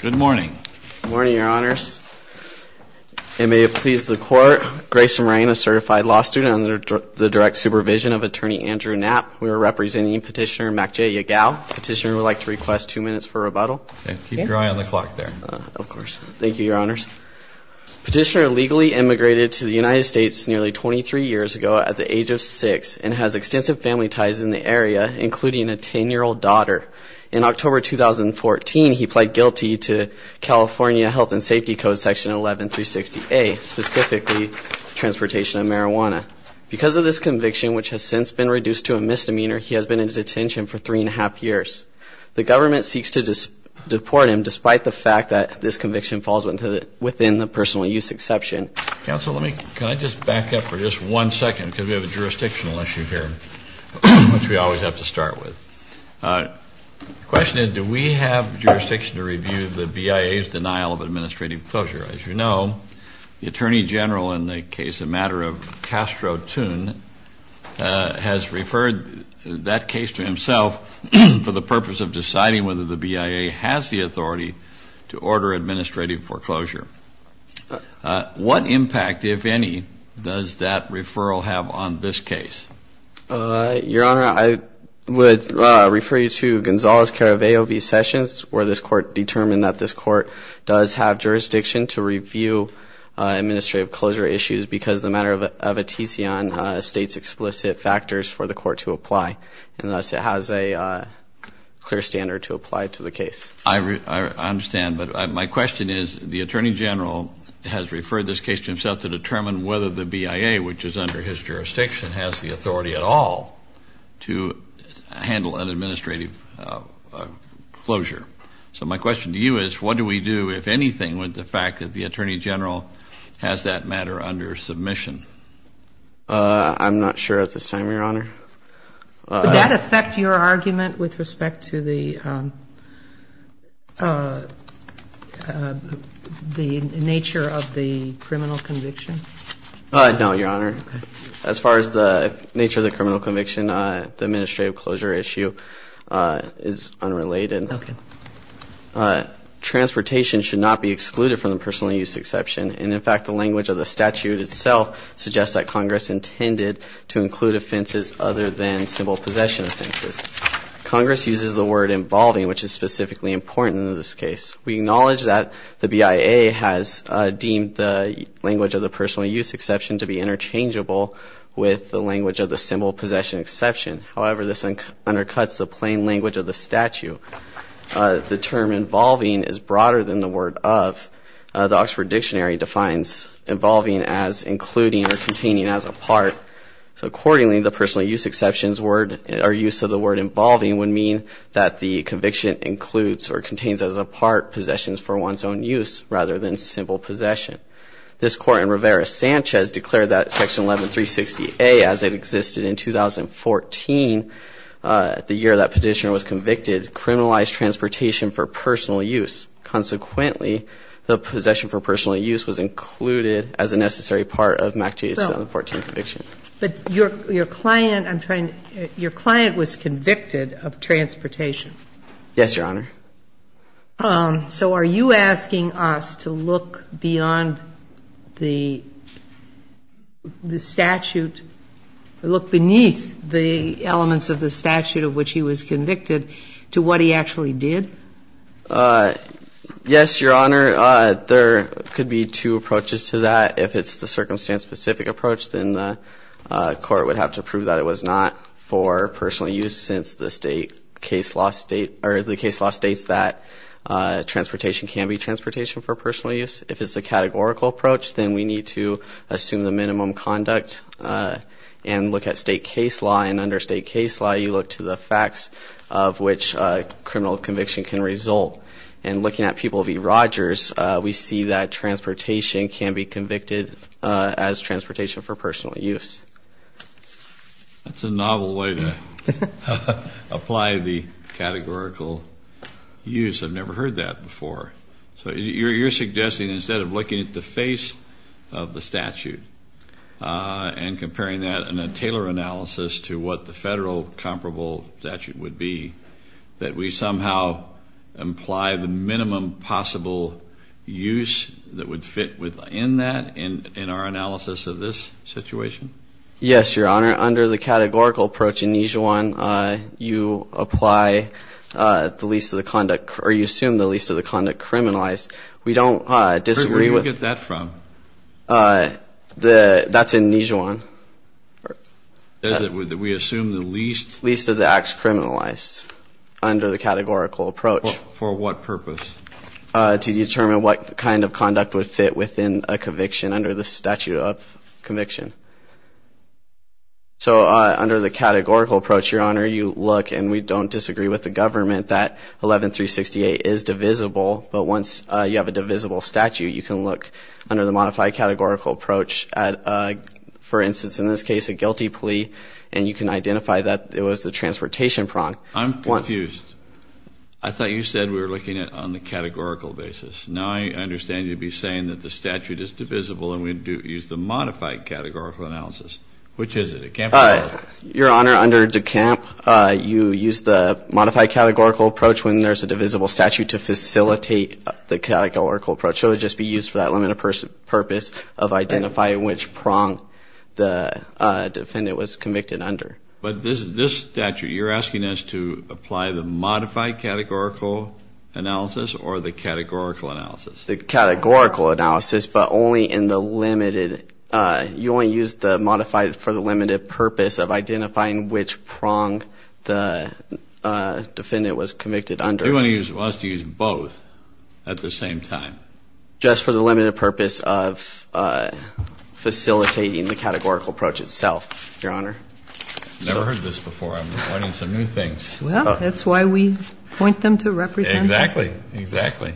Good morning. Good morning, Your Honors. And may it please the Court, Grace Moran, a certified law student under the direct supervision of Attorney Andrew Knapp. We are representing Petitioner MacJay Yagao. Petitioner would like to request two minutes for rebuttal. Keep your eye on the clock there. Of course. Thank you, Your Honors. Petitioner legally immigrated to the United States nearly 23 years ago at the age of 6 and has extensive family ties in the area, including a 10-year-old daughter. In October 2014, he pled guilty to California Health and Safety Code Section 11-360A, specifically transportation of marijuana. Because of this conviction, which has since been reduced to a misdemeanor, he has been in detention for three and a half years. The government seeks to deport him, despite the fact that this conviction falls within the personal use exception. Counsel, can I just back up for just one second because we have a jurisdictional issue here, which we always have to start with. The question is, do we have jurisdiction to review the BIA's denial of administrative foreclosure? As you know, the Attorney General in the case of the matter of Castro Toon has referred that case to himself for the purpose of deciding whether the BIA has the authority to order administrative foreclosure. What impact, if any, does that referral have on this case? Your Honor, I would refer you to Gonzalez-Caraveo v. Sessions, where this Court determined that this Court does have jurisdiction to review administrative closure issues because the matter of a TC on states explicit factors for the Court to apply, and thus it has a clear standard to apply to the case. I understand, but my question is, the Attorney General has referred this case to himself to determine whether the BIA, which is under his jurisdiction, has the authority at all to handle an administrative closure. So my question to you is, what do we do, if anything, with the fact that the Attorney General has that matter under submission? I'm not sure at this time, Your Honor. Would that affect your argument with respect to the nature of the criminal conviction? No, Your Honor. Okay. As far as the nature of the criminal conviction, the administrative closure issue is unrelated. Okay. Transportation should not be excluded from the personal use exception, and in fact the language of the statute itself suggests that Congress intended to include offenses other than simple possession offenses. Congress uses the word involving, which is specifically important in this case. We acknowledge that the BIA has deemed the language of the personal use exception to be interchangeable with the language of the simple possession exception. However, this undercuts the plain language of the statute. The term involving is broader than the word of. The Oxford Dictionary defines involving as including or containing as a part. Accordingly, the personal use exception's word, or use of the word involving, would mean that the conviction includes or contains as a part possessions for one's own use rather than simple possession. This Court in Rivera-Sanchez declared that Section 11360A, as it existed in 2014, the year that petitioner was convicted, criminalized transportation for personal use. Consequently, the possession for personal use was included as a necessary part of MAC-2's 2014 conviction. But your client was convicted of transportation. Yes, Your Honor. So are you asking us to look beyond the statute, look beneath the elements of the statute of which he was convicted, to what he actually did? Yes, Your Honor. There could be two approaches to that. If it's the circumstance-specific approach, then the court would have to prove that it was not for personal use since the state case law state, or the case law states that transportation can be transportation for personal use. If it's a categorical approach, then we need to assume the minimum conduct and look at state case law. You look to the facts of which criminal conviction can result. And looking at people v. Rogers, we see that transportation can be convicted as transportation for personal use. That's a novel way to apply the categorical use. I've never heard that before. So you're suggesting instead of looking at the face of the statute and comparing that in a Taylor analysis to what the federal comparable statute would be, that we somehow imply the minimum possible use that would fit within that in our analysis of this situation? Yes, Your Honor. Under the categorical approach in each one, you assume the least of the conduct criminalized. We don't disagree with- Where do you get that from? That's in Nijuan. We assume the least- Least of the acts criminalized under the categorical approach. For what purpose? To determine what kind of conduct would fit within a conviction under the statute of conviction. So under the categorical approach, Your Honor, you look, and we don't disagree with the government that 11368 is divisible, but once you have a divisible statute, you can look under the modified categorical approach at, for instance, in this case, a guilty plea, and you can identify that it was the transportation prong. I'm confused. I thought you said we were looking at it on the categorical basis. Now I understand you'd be saying that the statute is divisible and we'd use the modified categorical analysis. Which is it? Your Honor, under DeCamp, you use the modified categorical approach when there's a divisible statute to facilitate the categorical approach. So it would just be used for that limited purpose of identifying which prong the defendant was convicted under. But this statute, you're asking us to apply the modified categorical analysis or the categorical analysis? The categorical analysis, but only in the limited- You want us to use both at the same time? Just for the limited purpose of facilitating the categorical approach itself, Your Honor. I've never heard this before. I'm learning some new things. Well, that's why we point them to representation. Exactly. Exactly.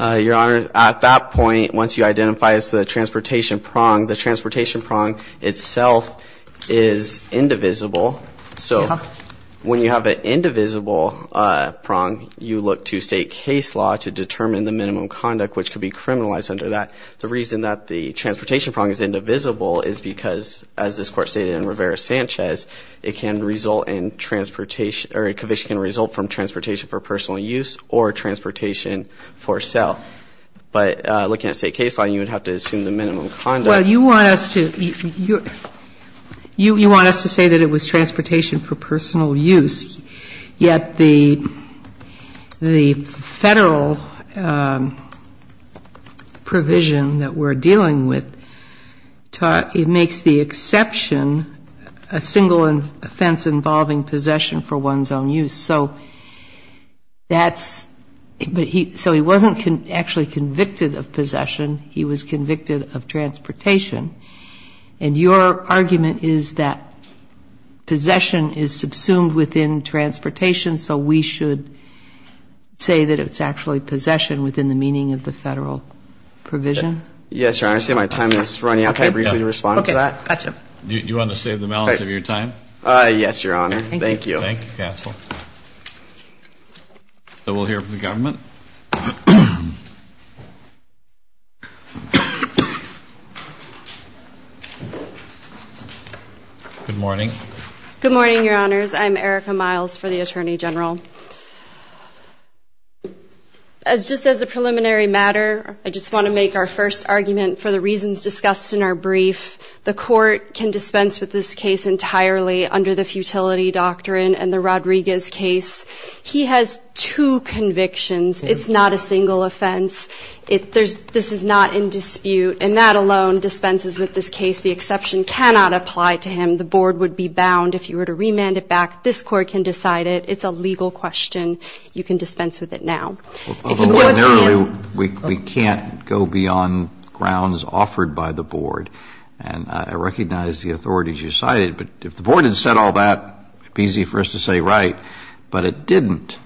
Your Honor, at that point, once you identify it's the transportation prong, the transportation prong itself is indivisible. So when you have an indivisible prong, you look to state case law to determine the minimum conduct which could be criminalized under that. The reason that the transportation prong is indivisible is because, as this Court stated in Rivera-Sanchez, it can result in transportation, or a conviction can result from transportation for personal use or transportation for sale. But looking at state case law, you would have to assume the minimum conduct- Well, you want us to say that it was transportation for personal use, yet the federal provision that we're dealing with, it makes the exception a single offense involving possession for one's own use. So he wasn't actually convicted of possession. He was convicted of transportation. And your argument is that possession is subsumed within transportation, so we should say that it's actually possession within the meaning of the federal provision? Yes, Your Honor. I see my time is running out. Can I briefly respond to that? Okay. Gotcha. You want to save the balance of your time? Yes, Your Honor. Thank you. Thank you, Castle. So we'll hear from the government. Good morning. Good morning, Your Honors. I'm Erica Miles for the Attorney General. Just as a preliminary matter, I just want to make our first argument for the reasons discussed in our brief. The court can dispense with this case entirely under the futility doctrine and the Rodriguez case. He has two convictions. It's not a single offense. This is not in dispute. And that alone dispenses with this case. The exception cannot apply to him. The board would be bound. If you were to remand it back, this court can decide it. It's a legal question. You can dispense with it now. Although, generally, we can't go beyond grounds offered by the board. And I recognize the authorities you cited. But if the board had said all that, it would be easy for us to say right. But it didn't.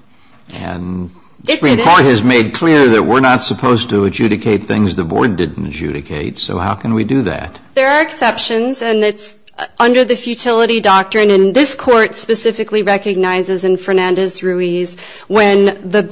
And the Supreme Court has made clear that we're not supposed to adjudicate things the board didn't adjudicate. So how can we do that? There are exceptions. And it's under the futility doctrine. And this court specifically recognizes, in Fernandez-Ruiz, where the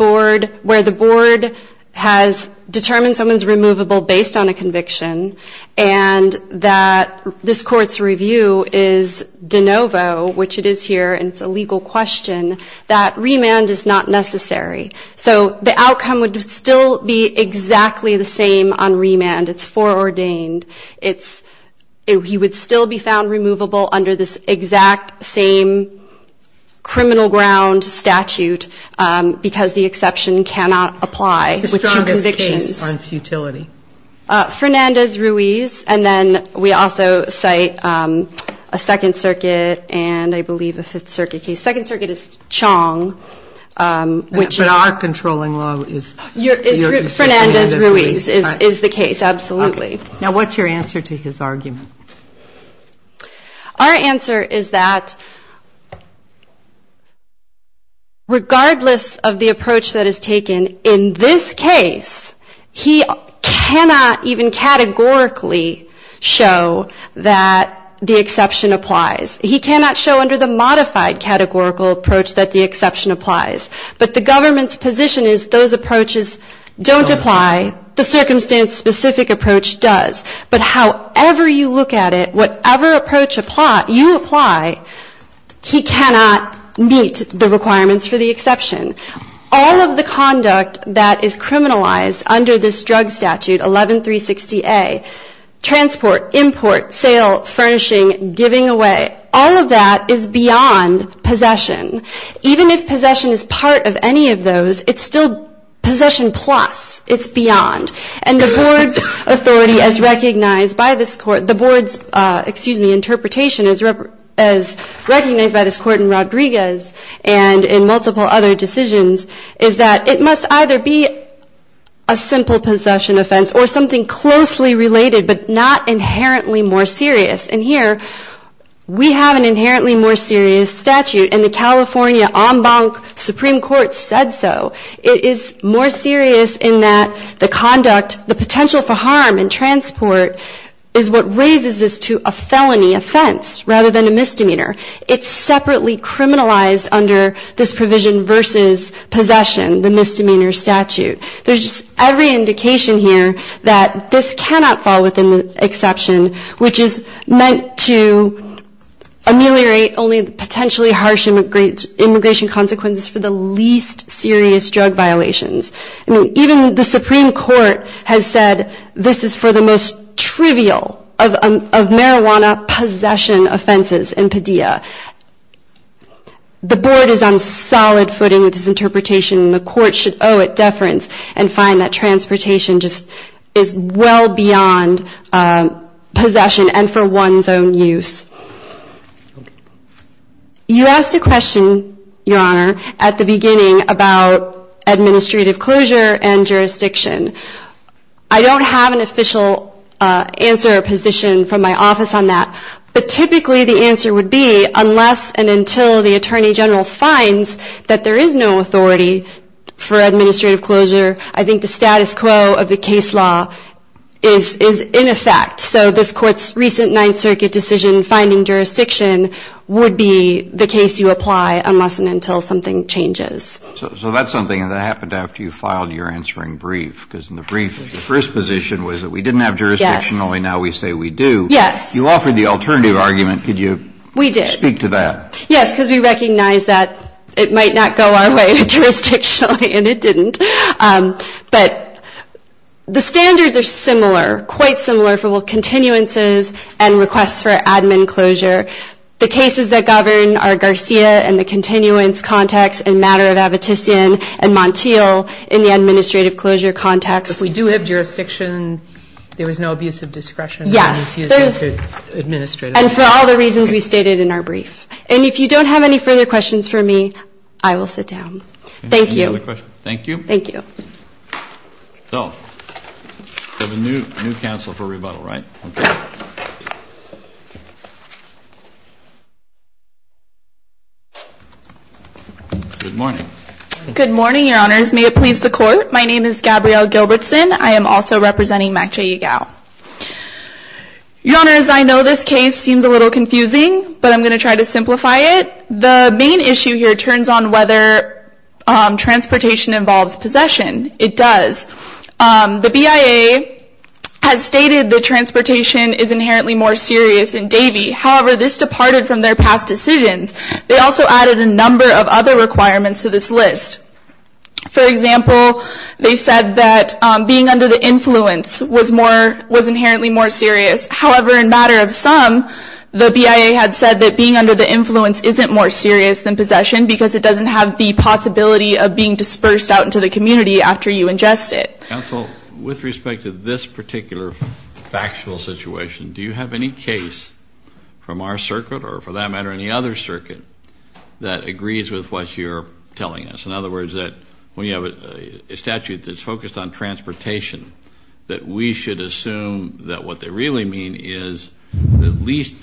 board has determined someone is removable based on a conviction and that this court's review is de novo, which it is here, and it's a legal question, that remand is not necessary. So the outcome would still be exactly the same on remand. It's foreordained. He would still be found removable under this exact same criminal ground statute because the exception cannot apply with two convictions. The strongest case on futility? Fernandez-Ruiz. And then we also cite a Second Circuit and, I believe, a Fifth Circuit case. Second Circuit is Chong, which is the case. But our controlling law is Fernandez-Ruiz. Fernandez-Ruiz is the case, absolutely. Now, what's your answer to his argument? Our answer is that regardless of the approach that is taken, in this case, he cannot even categorically show that the exception applies. He cannot show under the modified categorical approach that the exception applies. But the government's position is those approaches don't apply. The circumstance-specific approach does. But however you look at it, whatever approach you apply, he cannot meet the requirements for the exception. All of the conduct that is criminalized under this drug statute, 11360A, transport, import, sale, furnishing, giving away, all of that is beyond possession. Even if possession is part of any of those, it's still possession plus. It's beyond. And the board's authority as recognized by this court, the board's interpretation as recognized by this court in Rodriguez and in multiple other decisions is that it must either be a simple possession offense or something closely related but not inherently more serious. And here, we have an inherently more serious statute, and the California Ombank Supreme Court said so. It is more serious in that the conduct, the potential for harm in transport, is what raises this to a felony offense rather than a misdemeanor. It's separately criminalized under this provision versus possession, the misdemeanor statute. There's just every indication here that this cannot fall within the exception, which is meant to ameliorate only the potentially harsh immigration consequences for the least serious drug violations. I mean, even the Supreme Court has said this is for the most trivial of marijuana possession offenses in Padilla. The board is on solid footing with this interpretation, and the court should owe it deference and find that transportation just is well beyond possession and for one's own use. You asked a question, Your Honor, at the beginning about administrative closure and jurisdiction. I don't have an official answer or position from my office on that, but typically the answer would be unless and until the Attorney General finds that there is no authority for administrative closure, I think the status quo of the case law is in effect. So this Court's recent Ninth Circuit decision finding jurisdiction would be the case you apply unless and until something changes. So that's something that happened after you filed your answering brief, because in the brief the first position was that we didn't have jurisdiction. Yes. Only now we say we do. Yes. You offered the alternative argument. Could you speak to that? We did. Yes, because we recognize that it might not go our way jurisdictionally, and it didn't. But the standards are similar, quite similar for both continuances and requests for admin closure. The cases that govern are Garcia in the continuance context and Matter of Appetition and Montiel in the administrative closure context. But we do have jurisdiction. There was no abuse of discretion. Yes. And for all the reasons we stated in our brief. And if you don't have any further questions for me, I will sit down. Thank you. Thank you. So we have a new counsel for rebuttal, right? Okay. Good morning. Good morning, Your Honors. May it please the Court. My name is Gabrielle Gilbertson. I am also representing MACJA EGAL. Your Honors, I know this case seems a little confusing, but I'm going to try to simplify it. The main issue here turns on whether transportation involves possession. It does. The BIA has stated that transportation is inherently more serious in Davie. However, this departed from their past decisions. They also added a number of other requirements to this list. For example, they said that being under the influence was inherently more serious. However, in matter of some, the BIA had said that being under the influence isn't more serious than possession because it doesn't have the possibility of being dispersed out into the community after you ingest it. Counsel, with respect to this particular factual situation, do you have any case from our circuit, or for that matter any other circuit, that agrees with what you're telling us? In other words, that when you have a statute that's focused on transportation, that we should assume that what they really mean is the least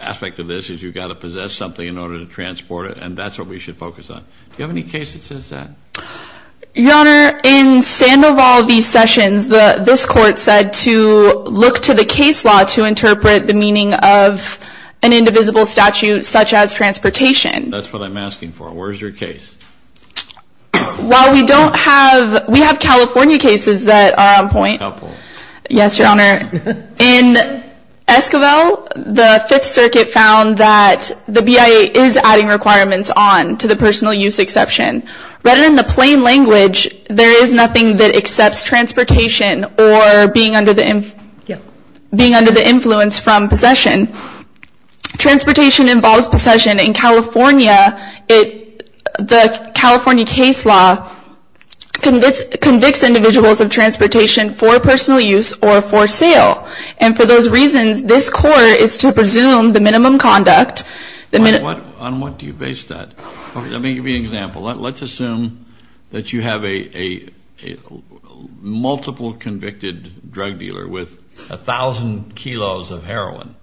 aspect of this is you've got to possess something in order to transport it, and that's what we should focus on. Do you have any case that says that? Your Honor, in Sandoval v. Sessions, this court said to look to the case law to interpret the meaning of an indivisible statute such as transportation. That's what I'm asking for. Where's your case? While we don't have, we have California cases that are on point. California. Yes, Your Honor. In Esquivel, the Fifth Circuit found that the BIA is adding requirements on to the personal use exception. But in the plain language, there is nothing that accepts transportation or being under the influence from possession. Transportation involves possession. In California, the California case law convicts individuals of transportation for personal use or for sale. And for those reasons, this court is to presume the minimum conduct. On what do you base that? Let me give you an example. Let's assume that you have a multiple convicted drug dealer with 1,000 kilos of heroin.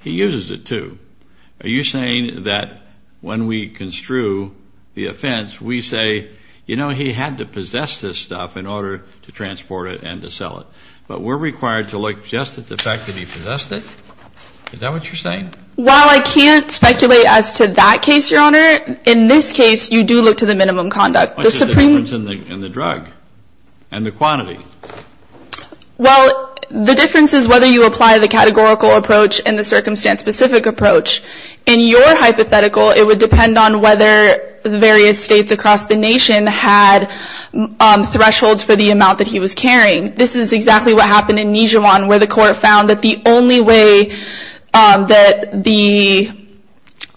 He uses it, too. Are you saying that when we construe the offense, we say, you know, he had to possess this stuff in order to transport it and to sell it. But we're required to look just at the fact that he possessed it? Is that what you're saying? Well, I can't speculate as to that case, Your Honor. In this case, you do look to the minimum conduct. What's the difference in the drug and the quantity? Well, the difference is whether you apply the categorical approach and the circumstance-specific approach. In your hypothetical, it would depend on whether various states across the nation had thresholds for the amount that he was carrying. This is exactly what happened in Nijuan, where the court found that the only way that the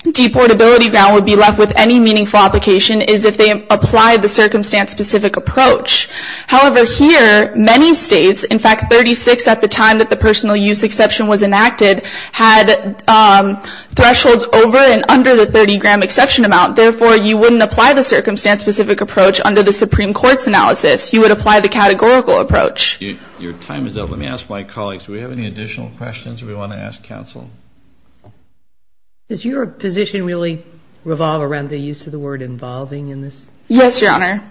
deportability ground would be left with any meaningful application is if they applied the circumstance-specific approach. However, here, many states, in fact, 36 at the time that the personal use exception was enacted, had thresholds over and under the 30-gram exception amount. Therefore, you wouldn't apply the circumstance-specific approach under the Supreme Court's analysis. You would apply the categorical approach. Your time is up. Let me ask my colleagues, do we have any additional questions we want to ask counsel? Does your position really revolve around the use of the word involving in this? Yes, Your Honor.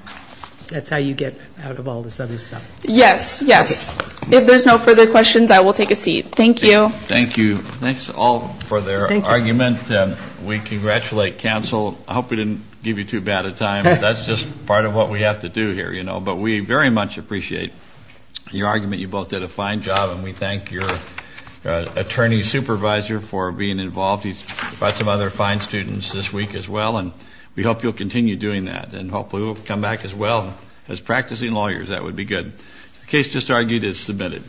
That's how you get out of all this other stuff. Yes, yes. If there's no further questions, I will take a seat. Thank you. Thank you. Thanks all for their argument. We congratulate counsel. I hope we didn't give you too bad a time. That's just part of what we have to do here, you know. But we very much appreciate your argument. You both did a fine job, and we thank your attorney supervisor for being involved. He's brought some other fine students this week as well, and we hope you'll continue doing that. And hopefully we'll come back as well as practicing lawyers. That would be good. The case just argued is submitted.